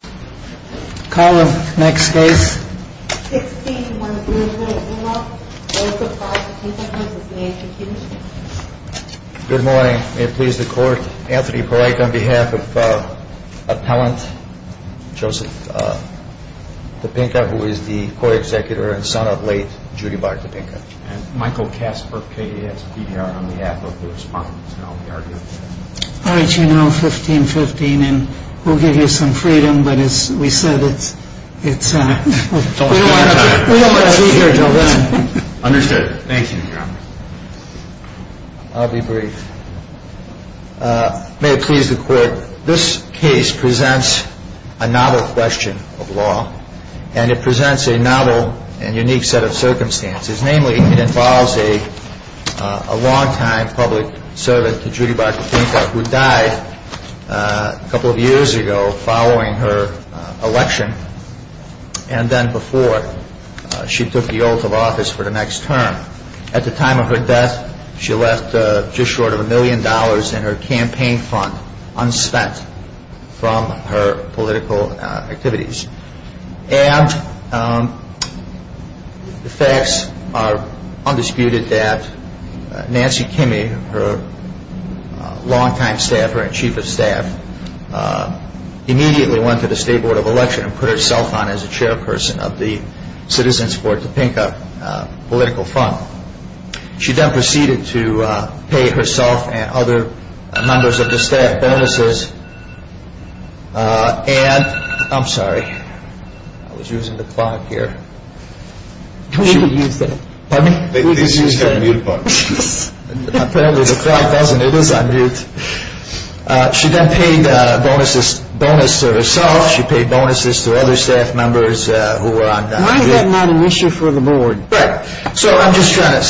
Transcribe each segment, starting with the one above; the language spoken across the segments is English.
Good morning. May it please the Court, Anthony Poliak on behalf of Appellant Joseph Topinka who is the Co-Executor and son of late Judy Bartopinka. And Michael Kasper, KASPDR, on behalf of the respondents. All right, you're now 15-15 and we'll give you some freedom, but as we said, we don't want to see you here until then. Understood. Thank you, Your Honor. I'll be brief. May it please the Court, this case presents a novel question of law and it presents a novel and unique set of circumstances. Namely, it involves a long-time public servant to Judy Bartopinka who died a couple of years ago following her election and then before. She took the oath of office for the next term. At the time of her death, she left just short of a million dollars in her campaign fund unspent from her political activities. And the facts are undisputed that Nancy Kimme, her long-time staffer and chief of staff, immediately went to the State Board of Election and put herself on as a chairperson of the Citizens for Topinka political fund. She then proceeded to pay herself and other members of the staff bonuses. And I'm sorry, I was using the clock here. We didn't use that. Pardon me? We didn't use that mute button. Apparently the clock doesn't, it is on mute. She then paid bonuses to herself, she paid bonuses to other staff members who were on mute. Why is that not an issue for the board? Right. So I'm just trying to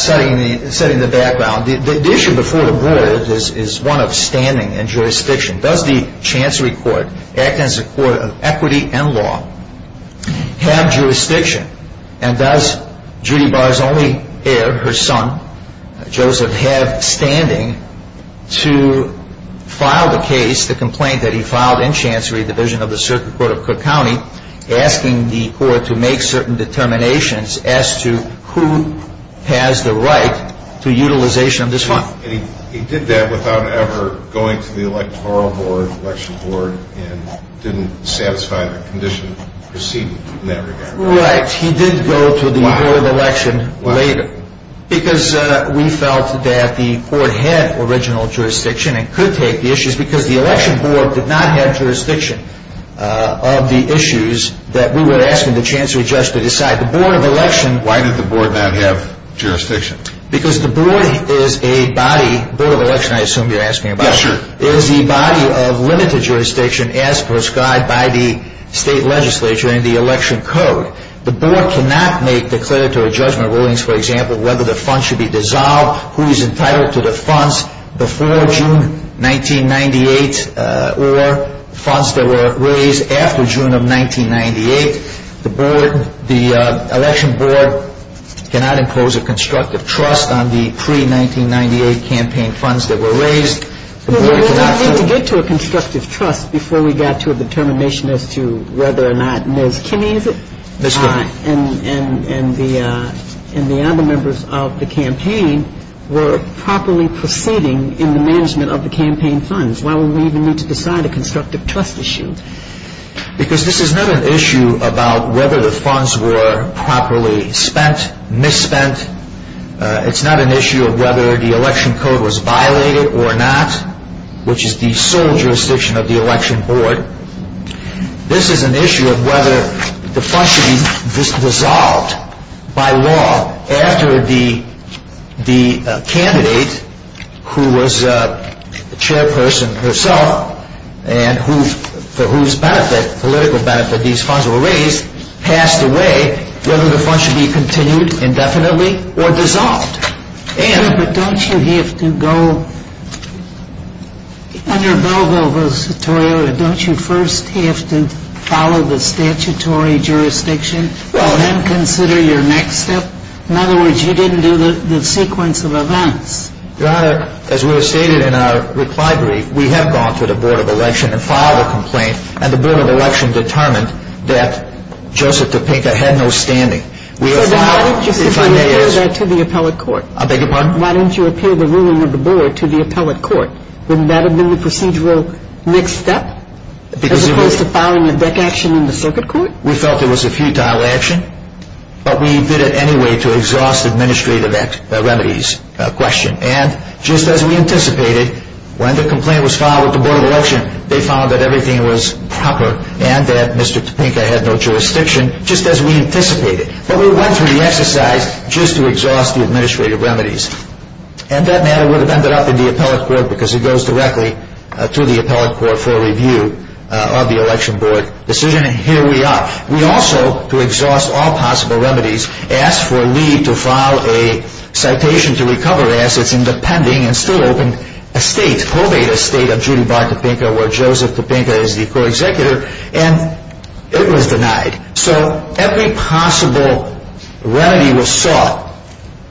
set in the background. The issue before the board is one of standing and jurisdiction. Does the Chancery Court, acting as a court of equity and law, have jurisdiction? And does Judy Bar's only heir, her son, Joseph, have standing to file the case, the complaint that he filed in Chancery Division of the Circuit Court of Cook County, asking the court to make certain determinations as to who has the right to utilization of this fund. And he did that without ever going to the Electoral Board, Election Board, and didn't satisfy the condition preceded in that regard. Right. He did go to the board election later. Why? Because we felt that the court had original jurisdiction and could take the issues because the Election Board did not have jurisdiction of the issues that we were asking the Chancery judge to decide. The board of election Why did the board not have jurisdiction? Because the board is a body, board of election I assume you're asking about. Yeah, sure. Is the body of limited jurisdiction as prescribed by the state legislature and the election code. The board cannot make declaratory judgment rulings, for example, whether the funds should be dissolved, who is entitled to the funds before June 1998 or funds that were raised after June of 1998. The board, the Election Board cannot impose a constructive trust on the pre-1998 campaign funds that were raised. Well, we didn't need to get to a constructive trust before we got to a determination as to whether or not Ms. Kinney is it? Ms. Kinney. And the other members of the campaign were properly proceeding in the management of the campaign funds. Why would we even need to decide a constructive trust issue? Because this is not an issue about whether the funds were properly spent, misspent. It's not an issue of whether the election code was violated or not, which is the sole jurisdiction of the Election Board. This is an issue of whether the funds should be dissolved by law after the candidate who was the chairperson herself and for whose benefit, political benefit, these funds were raised passed away, whether the funds should be continued indefinitely or dissolved. But don't you have to go, under Bilbo's tutorial, don't you first have to follow the statutory jurisdiction and then consider your next step? In other words, you didn't do the sequence of events. Your Honor, as we have stated in our reply brief, we have gone to the Board of Election and filed a complaint and the Board of Election determined that Joseph Topeka had no standing. So then why didn't you appeal that to the appellate court? I beg your pardon? Why didn't you appeal the ruling of the Board to the appellate court? Wouldn't that have been the procedural next step as opposed to filing a deck action in the circuit court? We felt it was a futile action, but we did it anyway to exhaust administrative remedies question. And just as we anticipated, when the complaint was filed with the Board of Election, they found that everything was proper and that Mr. Topeka had no jurisdiction, just as we anticipated. But we went through the exercise just to exhaust the administrative remedies. And that matter would have ended up in the appellate court because it goes directly to the appellate court for review of the election board decision. And here we are. We also, to exhaust all possible remedies, asked for Lee to file a citation to recover assets in the pending and still open estate, where Joseph Topeka is the co-executor, and it was denied. So every possible remedy was sought.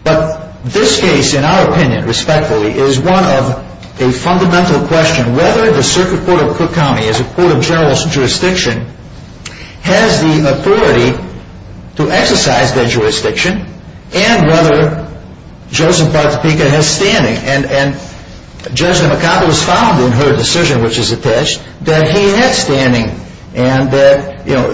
But this case, in our opinion, respectfully, is one of a fundamental question, whether the circuit court of Cook County as a court of general jurisdiction has the authority to exercise that jurisdiction, and whether Joseph Topeka has standing. And Judge McConville has found in her decision, which is attached, that he has standing. And that, you know,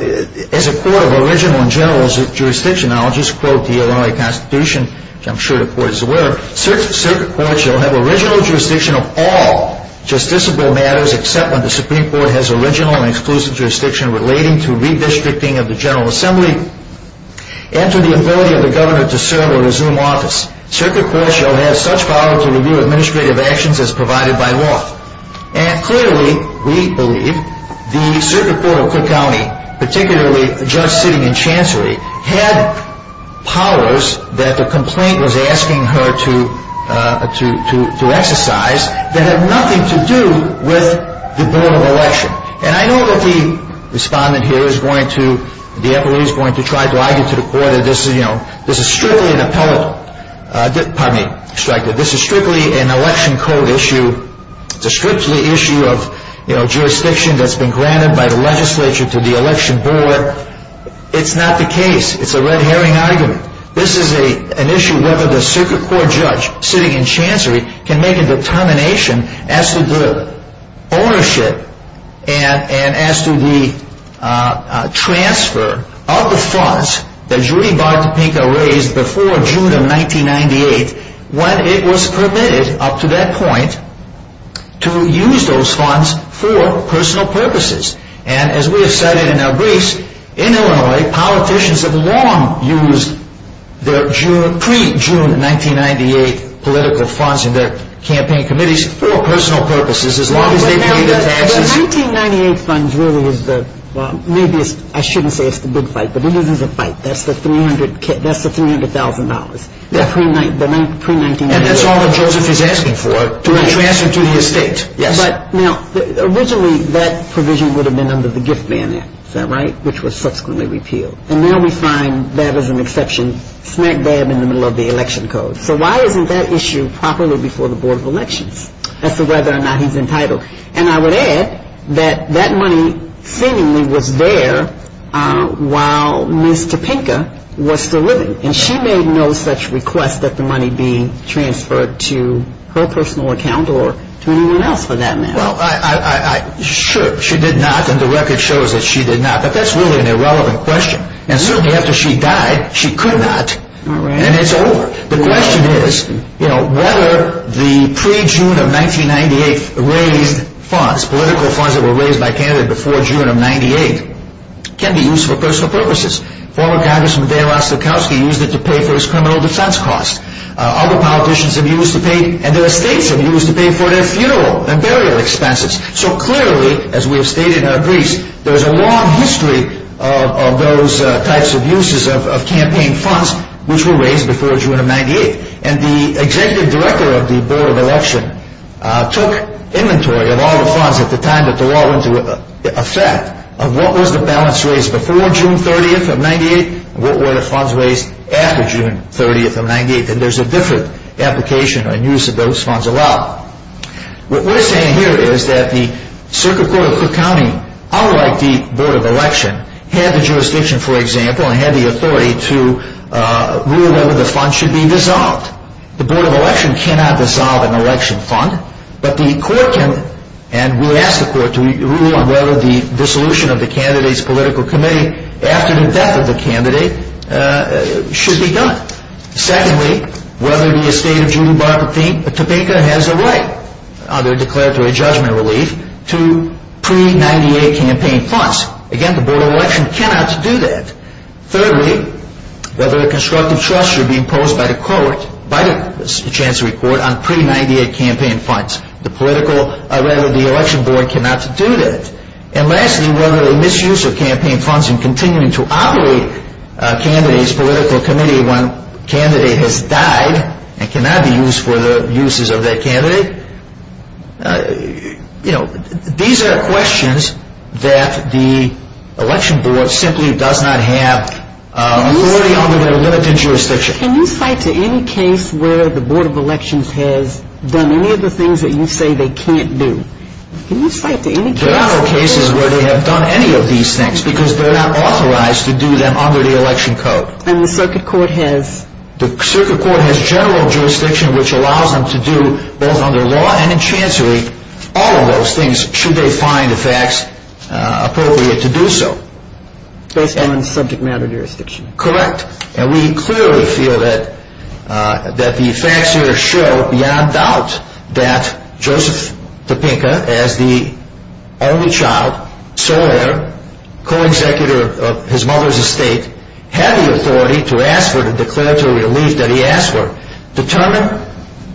as a court of original and general jurisdiction, and I'll just quote the Illinois Constitution, which I'm sure the court is aware of, circuit court shall have original jurisdiction of all justiciable matters, except when the Supreme Court has original and exclusive jurisdiction relating to redistricting of the General Assembly and to the ability of the governor to serve or resume office. Circuit court shall have such power to review administrative actions as provided by law. And clearly, we believe the circuit court of Cook County, particularly the judge sitting in chancery, had powers that the complaint was asking her to exercise that had nothing to do with the board of election. And I know that the respondent here is going to, the FLE is going to try to argue to the court that this is strictly an appellate. Pardon me. This is strictly an election code issue. It's a strictly issue of, you know, jurisdiction that's been granted by the legislature to the election board. It's not the case. It's a red herring argument. This is an issue whether the circuit court judge sitting in chancery can make a determination as to the ownership and as to the transfer of the funds that Judy Bartopinka raised before June of 1998, when it was permitted up to that point to use those funds for personal purposes. And as we have cited in our briefs, in Illinois, politicians have long used their pre-June 1998 political funds in their campaign committees for personal purposes as long as they paid their taxes. Now, the 1998 funds really is the, well, maybe I shouldn't say it's the big fight, but it is a fight. That's the $300,000, the pre-1998. And that's all that Joseph is asking for, to be transferred to the estate. Yes. But, now, originally that provision would have been under the Gift Man Act. Is that right? Which was subsequently repealed. And now we find that as an exception, smack dab in the middle of the election code. So why isn't that issue properly before the Board of Elections as to whether or not he's entitled? And I would add that that money seemingly was there while Ms. Topinka was still living. And she made no such request that the money be transferred to her personal account or to anyone else for that matter. Well, I, sure, she did not, and the record shows that she did not. But that's really an irrelevant question. And certainly after she died, she could not. All right. And it's over. The question is, you know, whether the pre-June of 1998 raised funds, political funds that were raised by Canada before June of 1998, can be used for personal purposes. Former Congressman De La Sokalski used it to pay for his criminal defense costs. Other politicians have used it to pay, and their estates have used it to pay for their funeral and burial expenses. So clearly, as we have stated in our briefs, there's a long history of those types of uses of campaign funds which were raised before June of 1998. And the executive director of the Board of Elections took inventory of all the funds at the time that the law went into effect of what was the balance raised before June 30th of 1998 and what were the funds raised after June 30th of 1998. And there's a different application and use of those funds allowed. What we're saying here is that the Circuit Court of Cook County, unlike the Board of Elections, had the jurisdiction, for example, and had the authority to rule whether the funds should be dissolved. The Board of Elections cannot dissolve an election fund, but the court can, and we ask the court to rule on whether the dissolution of the candidate's political committee after the death of the candidate should be done. Secondly, whether the estate of Judy Barthelme, Topeka, has a right, under declaratory judgment relief, to pre-98 campaign funds. Again, the Board of Elections cannot do that. Thirdly, whether a constructive trust should be imposed by the court, by the Chancery Court, on pre-98 campaign funds. The political, or rather the election board cannot do that. And lastly, whether the misuse of campaign funds in continuing to operate a candidate's political committee when a candidate has died and cannot be used for the uses of that candidate. You know, these are questions that the election board simply does not have authority under their limited jurisdiction. Can you cite to any case where the Board of Elections has done any of the things that you say they can't do? There are no cases where they have done any of these things because they're not authorized to do them under the election code. And the circuit court has? The circuit court has general jurisdiction which allows them to do, both under law and in Chancery, all of those things should they find the facts appropriate to do so. Based on subject matter jurisdiction? Correct. And we clearly feel that the facts here show, beyond doubt, that Joseph Topeka, as the only child, sole heir, co-executor of his mother's estate, had the authority to ask for the declaratory relief that he asked for. Determine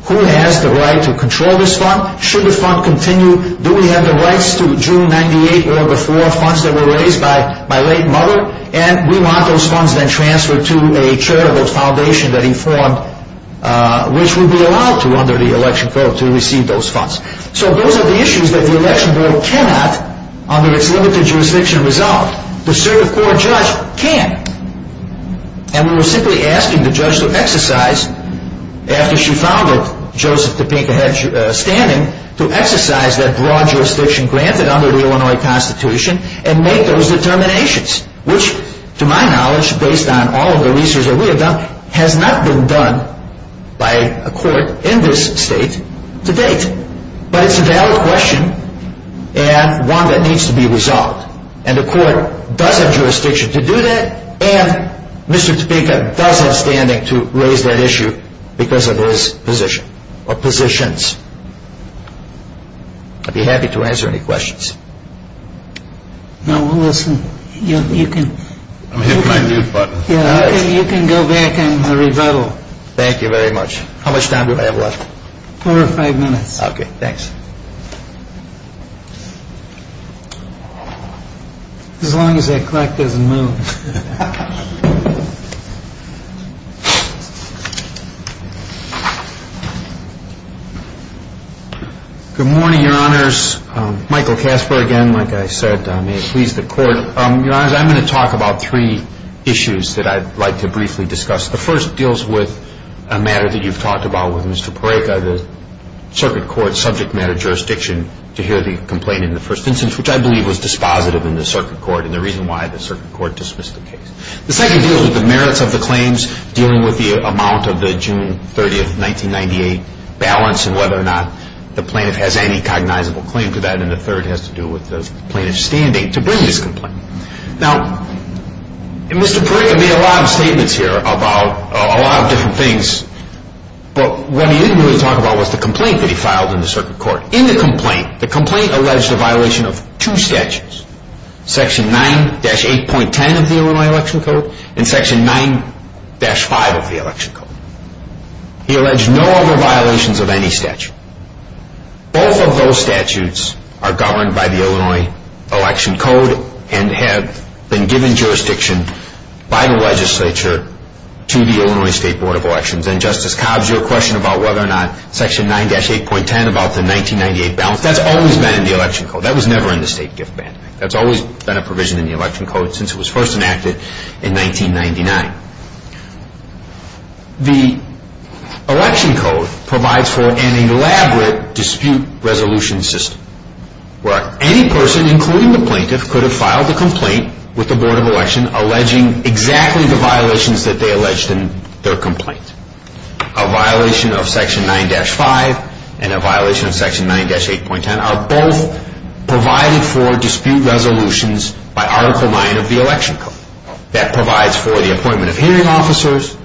who has the right to control this fund. Should the fund continue? Do we have the rights to June 98 or before funds that were raised by my late mother? And we want those funds then transferred to a charitable foundation that he formed, which would be allowed to, under the election code, to receive those funds. So those are the issues that the election board cannot, under its limited jurisdiction, resolve. The circuit court judge can. And we're simply asking the judge to exercise, after she found that Joseph Topeka had standing, to exercise that broad jurisdiction granted under the Illinois Constitution and make those determinations. Which, to my knowledge, based on all of the research that we have done, has not been done by a court in this state to date. But it's a valid question and one that needs to be resolved. And the court does have jurisdiction to do that, and Mr. Topeka does have standing to raise that issue because of his position or positions. I'd be happy to answer any questions. No, we'll listen. You can... I'm hitting my mute button. You can go back and rebuttal. Thank you very much. How much time do I have left? Four or five minutes. Okay, thanks. As long as that clock doesn't move. Good morning, Your Honors. Michael Casper again. Like I said, may it please the Court. Your Honors, I'm going to talk about three issues that I'd like to briefly discuss. The first deals with a matter that you've talked about with Mr. Pareca, the circuit court subject matter jurisdiction to hear the complaint in the first instance, which I believe was dispositive in the circuit court and the reason why the circuit court dismissed the case. The second deals with the merits of the claims, dealing with the amount of the June 30, 1998 balance and whether or not the plaintiff has any cognizable claim to that. And the third has to do with the plaintiff's standing to bring this complaint. Now, Mr. Pareca made a lot of statements here about a lot of different things, but what he didn't really talk about was the complaint that he filed in the circuit court. Now, in the complaint, the complaint alleged a violation of two statutes, Section 9-8.10 of the Illinois Election Code and Section 9-5 of the Election Code. He alleged no other violations of any statute. Both of those statutes are governed by the Illinois Election Code and have been given jurisdiction by the legislature to the Illinois State Board of Elections. And Justice Cobbs, your question about whether or not Section 9-8.10 about the 1998 balance, that's always been in the Election Code. That was never in the state gift ban. That's always been a provision in the Election Code since it was first enacted in 1999. The Election Code provides for an elaborate dispute resolution system where any person, including the plaintiff, could have filed a complaint with the Board of Election alleging exactly the violations that they alleged in their complaint. A violation of Section 9-5 and a violation of Section 9-8.10 are both provided for dispute resolutions by Article 9 of the Election Code. That provides for the appointment of hearing officers,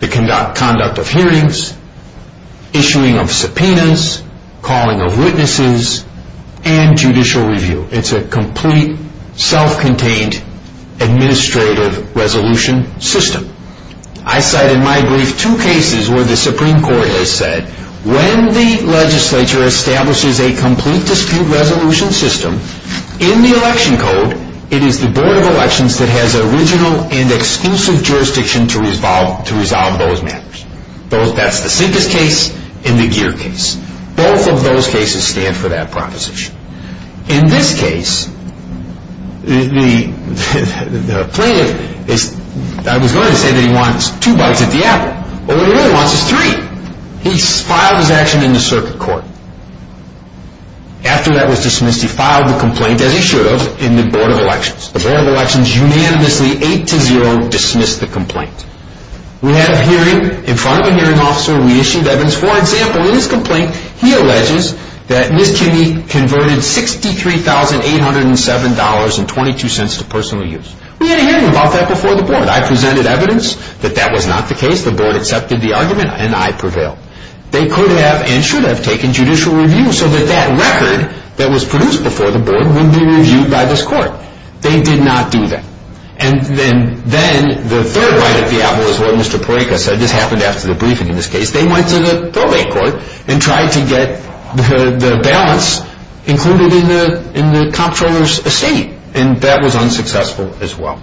the conduct of hearings, issuing of subpoenas, calling of witnesses, and judicial review. It's a complete, self-contained, administrative resolution system. I cite in my brief two cases where the Supreme Court has said when the legislature establishes a complete dispute resolution system in the Election Code, it is the Board of Elections that has original and exclusive jurisdiction to resolve those matters. That's the Sinkus case and the Geer case. Both of those cases stand for that proposition. In this case, the plaintiff, I was going to say that he wants two bites at the apple, but what he really wants is three. He's filed his action in the circuit court. After that was dismissed, he filed the complaint as he should have in the Board of Elections. The Board of Elections unanimously, 8-0, dismissed the complaint. We have a hearing, in front of a hearing officer, we issued evidence. For example, in his complaint, he alleges that Ms. Kinney converted $63,807.22 to personal use. We had a hearing about that before the Board. I presented evidence that that was not the case. The Board accepted the argument, and I prevailed. They could have and should have taken judicial review so that that record that was produced before the Board would be reviewed by this court. They did not do that. And then the third bite at the apple is what Mr. Porreca said. This happened after the briefing in this case. They went to the probate court and tried to get the balance included in the comptroller's estate, and that was unsuccessful as well.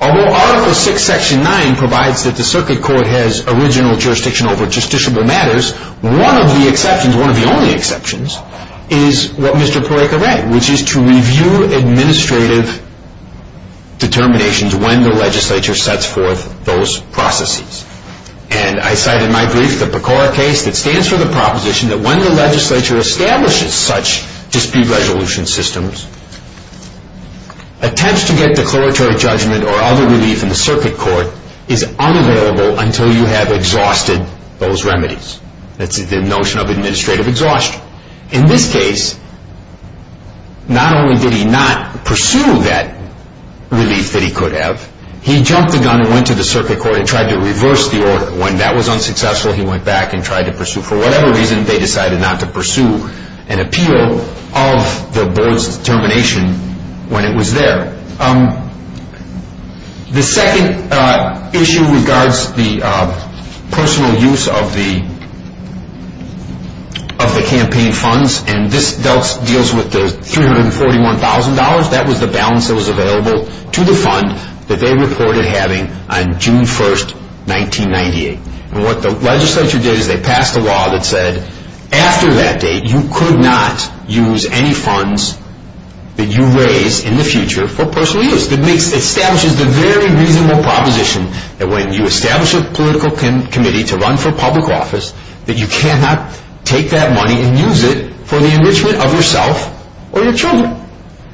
Although Article VI, Section 9 provides that the circuit court has original jurisdiction over justiciable matters, one of the exceptions, one of the only exceptions, is what Mr. Porreca read, which is to review administrative determinations when the legislature sets forth those processes. And I cite in my brief the Pecora case that stands for the proposition that when the legislature establishes such dispute resolution systems, attempts to get declaratory judgment or other relief in the circuit court is unavailable until you have exhausted those remedies. That's the notion of administrative exhaustion. In this case, not only did he not pursue that relief that he could have, he jumped the gun and went to the circuit court and tried to reverse the order. When that was unsuccessful, he went back and tried to pursue. For whatever reason, they decided not to pursue an appeal of the Board's determination when it was there. The second issue regards the personal use of the campaign funds, and this deals with the $341,000. That was the balance that was available to the fund that they reported having on June 1, 1998. And what the legislature did is they passed a law that said, that you raise in the future for personal use. It establishes the very reasonable proposition that when you establish a political committee to run for public office, that you cannot take that money and use it for the enrichment of yourself or your children.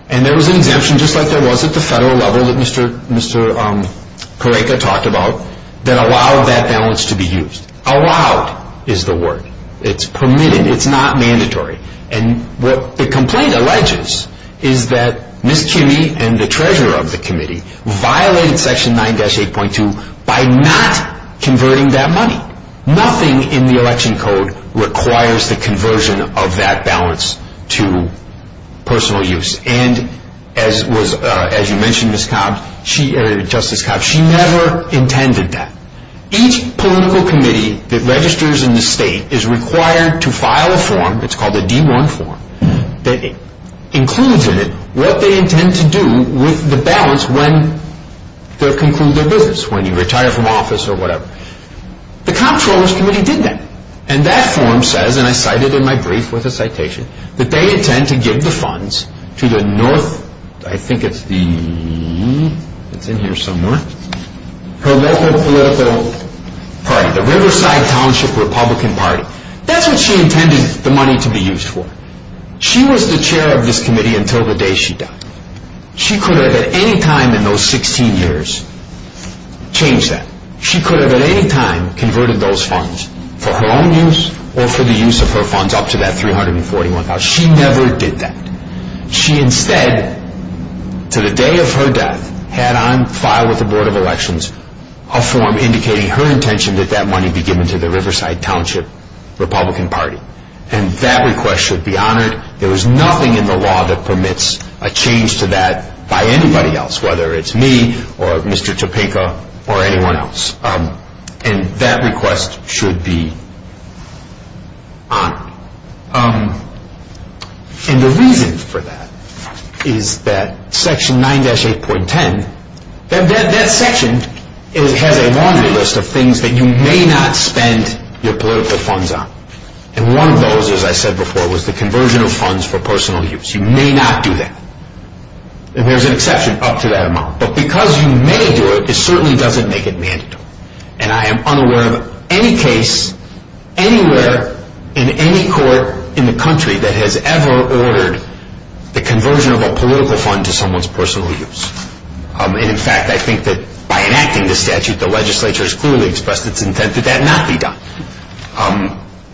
And there was an exemption, just like there was at the federal level that Mr. Correca talked about, that allowed that balance to be used. Allowed is the word. It's permitted. It's not mandatory. And what the complaint alleges is that Ms. Kimme and the treasurer of the committee violated Section 9-8.2 by not converting that money. Nothing in the election code requires the conversion of that balance to personal use. And as you mentioned, Justice Cobb, she never intended that. Each political committee that registers in the state is required to file a form. It's called the D1 form. It includes in it what they intend to do with the balance when they conclude their business, when you retire from office or whatever. The comptroller's committee did that. And that form says, and I cite it in my brief with a citation, that they intend to give the funds to the North, I think it's the, it's in here somewhere, her local political party, the Riverside Township Republican Party. That's what she intended the money to be used for. She was the chair of this committee until the day she died. She could have at any time in those 16 years changed that. She could have at any time converted those funds for her own use or for the use of her funds up to that $341,000. She never did that. She instead, to the day of her death, had on file with the Board of Elections a form indicating her intention that that money be given to the Riverside Township Republican Party. And that request should be honored. There is nothing in the law that permits a change to that by anybody else, whether it's me or Mr. Topeka or anyone else. And that request should be honored. And the reason for that is that Section 9-8.10, that section has a laundry list of things that you may not spend your political funds on. And one of those, as I said before, was the conversion of funds for personal use. You may not do that. And there's an exception up to that amount. But because you may do it, it certainly doesn't make it mandatory. And I am unaware of any case anywhere in any court in the country that has ever ordered the conversion of a political fund to someone's personal use. And, in fact, I think that by enacting this statute, the legislature has clearly expressed its intent that that not be done.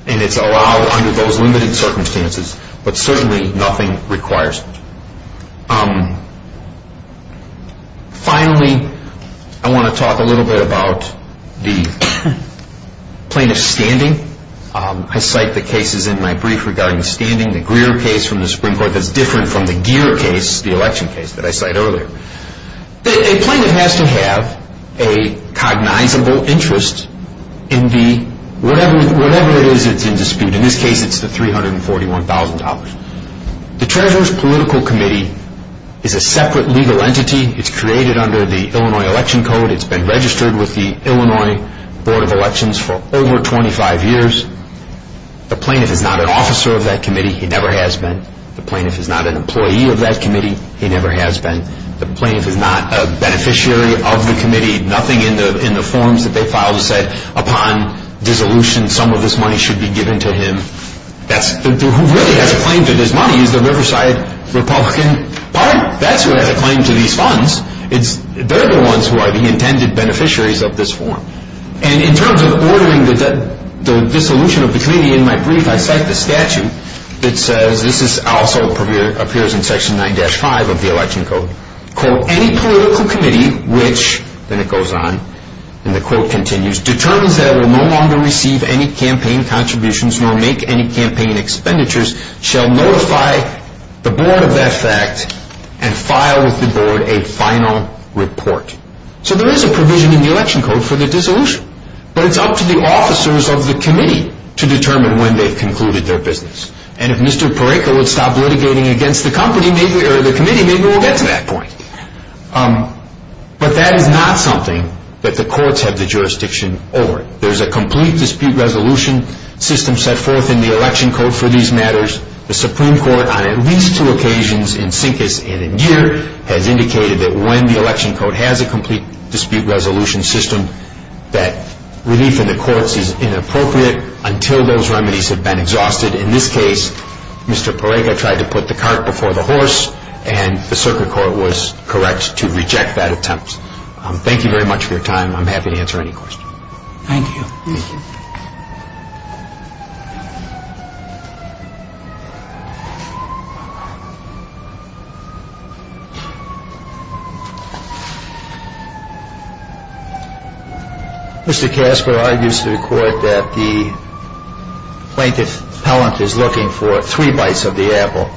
And it's allowed under those limited circumstances. But certainly nothing requires it. Finally, I want to talk a little bit about the plaintiff's standing. I cite the cases in my brief regarding the standing, the Greer case from the Supreme Court that's different from the Gere case, the election case that I cited earlier. A plaintiff has to have a cognizable interest in whatever it is that's in dispute. In this case, it's the $341,000. The Treasurer's Political Committee is a separate legal entity. It's created under the Illinois Election Code. It's been registered with the Illinois Board of Elections for over 25 years. The plaintiff is not an officer of that committee. He never has been. The plaintiff is not an employee of that committee. He never has been. The plaintiff is not a beneficiary of the committee. Nothing in the forms that they filed said, upon dissolution, some of this money should be given to him. Who really has a claim to this money is the Riverside Republican Party. That's who has a claim to these funds. They're the ones who are the intended beneficiaries of this form. And in terms of ordering the dissolution of the committee, in my brief I cite the statute that says, this also appears in Section 9-5 of the Election Code, quote, any political committee which, then it goes on, and the quote continues, determines that it will no longer receive any campaign contributions nor make any campaign expenditures, shall notify the board of that fact and file with the board a final report. So there is a provision in the Election Code for the dissolution. But it's up to the officers of the committee to determine when they've concluded their business. And if Mr. Pareto would stop litigating against the committee, maybe we'll get to that point. But that is not something that the courts have the jurisdiction over. There's a complete dispute resolution system set forth in the Election Code for these matters. The Supreme Court on at least two occasions, in Sinkis and in Geer, has indicated that when the Election Code has a complete dispute resolution system, that relief in the courts is inappropriate until those remedies have been exhausted. In this case, Mr. Pareto tried to put the cart before the horse, and the circuit court was correct to reject that attempt. Thank you very much for your time. I'm happy to answer any questions. Thank you. Thank you. Mr. Casper argues to the court that the plaintiff's appellant is looking for three bites of the apple.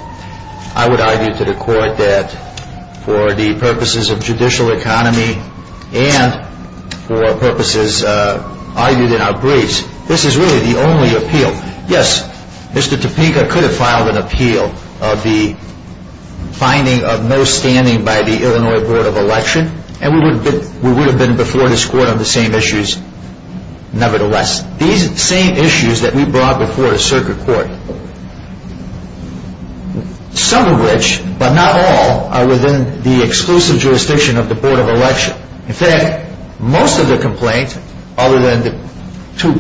I would argue to the court that for the purposes of judicial economy and for purposes argued in our briefs, this is really the only appeal. Yes, Mr. Topeka could have filed an appeal of the finding of no standing by the Illinois Board of Election, and we would have been before this court on the same issues nevertheless. These same issues that we brought before the circuit court, some of which, but not all, are within the exclusive jurisdiction of the Board of Election. In fact, most of the complaint, other than the two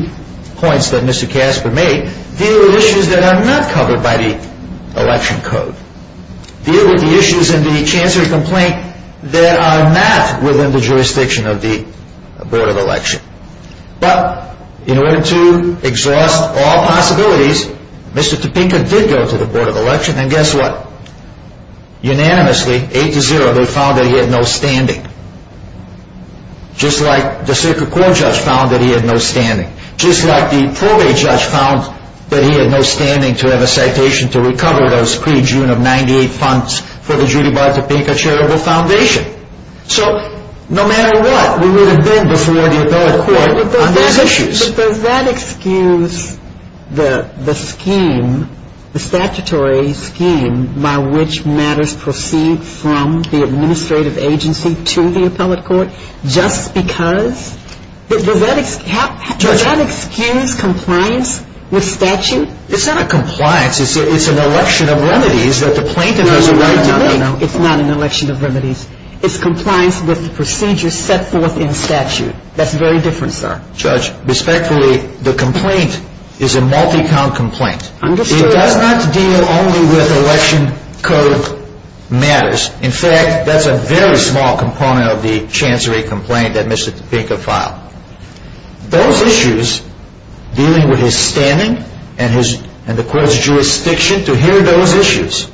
points that Mr. Casper made, deal with issues that are not covered by the Election Code, deal with the issues in the chancellor's complaint that are not within the jurisdiction of the Board of Election. But, in order to exhaust all possibilities, Mr. Topeka did go to the Board of Election, and guess what? Unanimously, eight to zero, they found that he had no standing. Just like the circuit court judge found that he had no standing. Just like the probate judge found that he had no standing to have a citation to recover those pre-June of 98 funds for the Judy Bar Topeka Charitable Foundation. So, no matter what, we would have been before the appellate court on these issues. But does that excuse the scheme, the statutory scheme, by which matters proceed from the administrative agency to the appellate court, just because? Does that excuse compliance with statute? It's not a compliance, it's an election of remedies that the plaintiff has a right to make. It's not an election of remedies. It's compliance with the procedures set forth in statute. That's very different, sir. Judge, respectfully, the complaint is a multi-count complaint. Understood. It does not deal only with Election Code matters. In fact, that's a very small component of the chancery complaint that Mr. Topeka filed. Those issues, dealing with his standing and the court's jurisdiction, to hear those issues,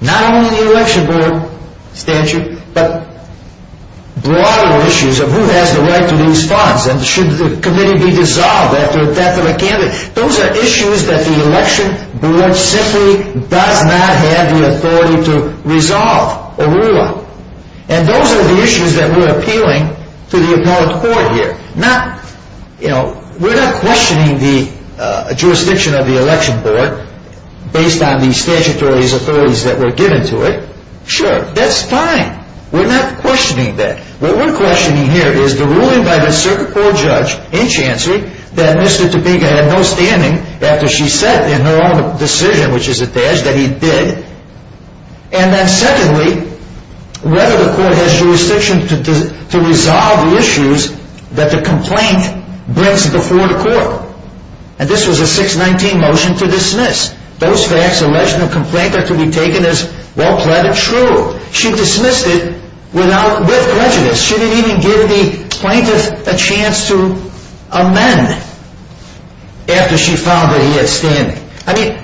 not only the election board statute, but broader issues of who has the right to these funds and should the committee be dissolved after the death of a candidate. Those are issues that the election board simply does not have the authority to resolve or rule on. And those are the issues that we're appealing to the appellate court here. We're not questioning the jurisdiction of the election board based on the statutory authorities that were given to it. Sure, that's fine. We're not questioning that. What we're questioning here is the ruling by the circuit court judge in chancery that Mr. Topeka had no standing after she said in her own decision, which is a badge, that he did. And then secondly, whether the court has jurisdiction to resolve the issues that the complaint brings before the court. And this was a 619 motion to dismiss. Those facts alleging a complaint are to be taken as well-pleaded true. She dismissed it with prejudice. She didn't even give the plaintiff a chance to amend after she found that he had standing. I mean,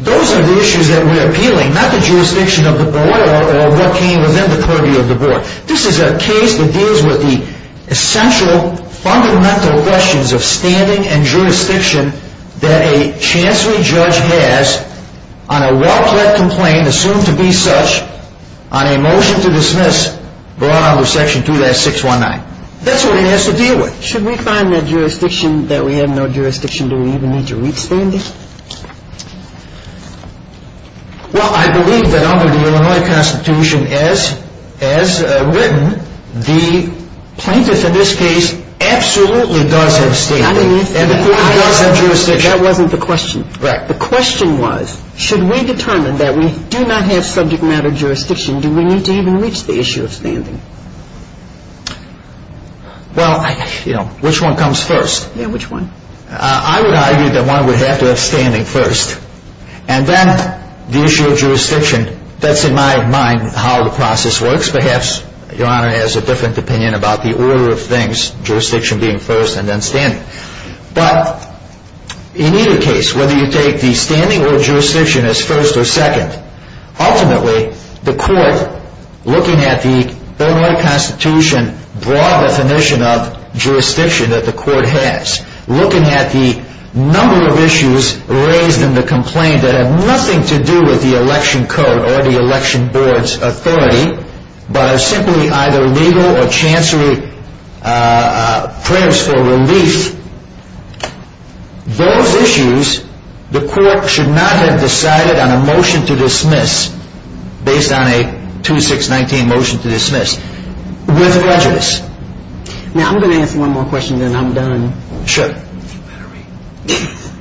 those are the issues that we're appealing, not the jurisdiction of the board or what came within the purview of the board. This is a case that deals with the essential, fundamental questions of standing and jurisdiction that a chancery judge has on a wrongful complaint assumed to be such on a motion to dismiss brought under section 2619. That's what he has to deal with. Should we find that jurisdiction, that we have no jurisdiction, do we even need to reach standing? Well, I believe that under the Illinois Constitution, as written, the plaintiff in this case absolutely does have standing. And the court does have jurisdiction. That wasn't the question. Correct. The question was, should we determine that we do not have subject matter jurisdiction, do we need to even reach the issue of standing? Well, you know, which one comes first? Yeah, which one? I would argue that one would have to have standing first. And then the issue of jurisdiction, that's in my mind how the process works. Perhaps Your Honor has a different opinion about the order of things, jurisdiction being first and then standing. But in either case, whether you take the standing or jurisdiction as first or second, ultimately, the court, looking at the Illinois Constitution broad definition of jurisdiction that the court has, looking at the number of issues raised in the complaint that have nothing to do with the election code or the election board's authority, but are simply either legal or chancery prayers for relief, those issues the court should not have decided on a motion to dismiss based on a 2619 motion to dismiss with prejudice. Now, I'm going to ask one more question and then I'm done. Sure. It's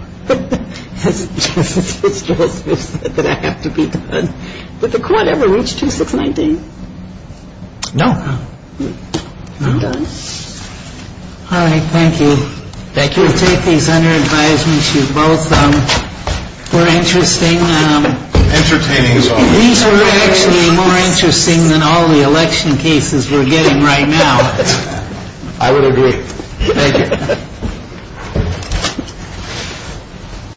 just that I have to be done. Did the court ever reach 2619? No. I'm done. All right, thank you. Thank you. We'll take these under advisement. You both were interesting. Entertaining. These were actually more interesting than all the election cases we're getting right now. I would agree. Thank you.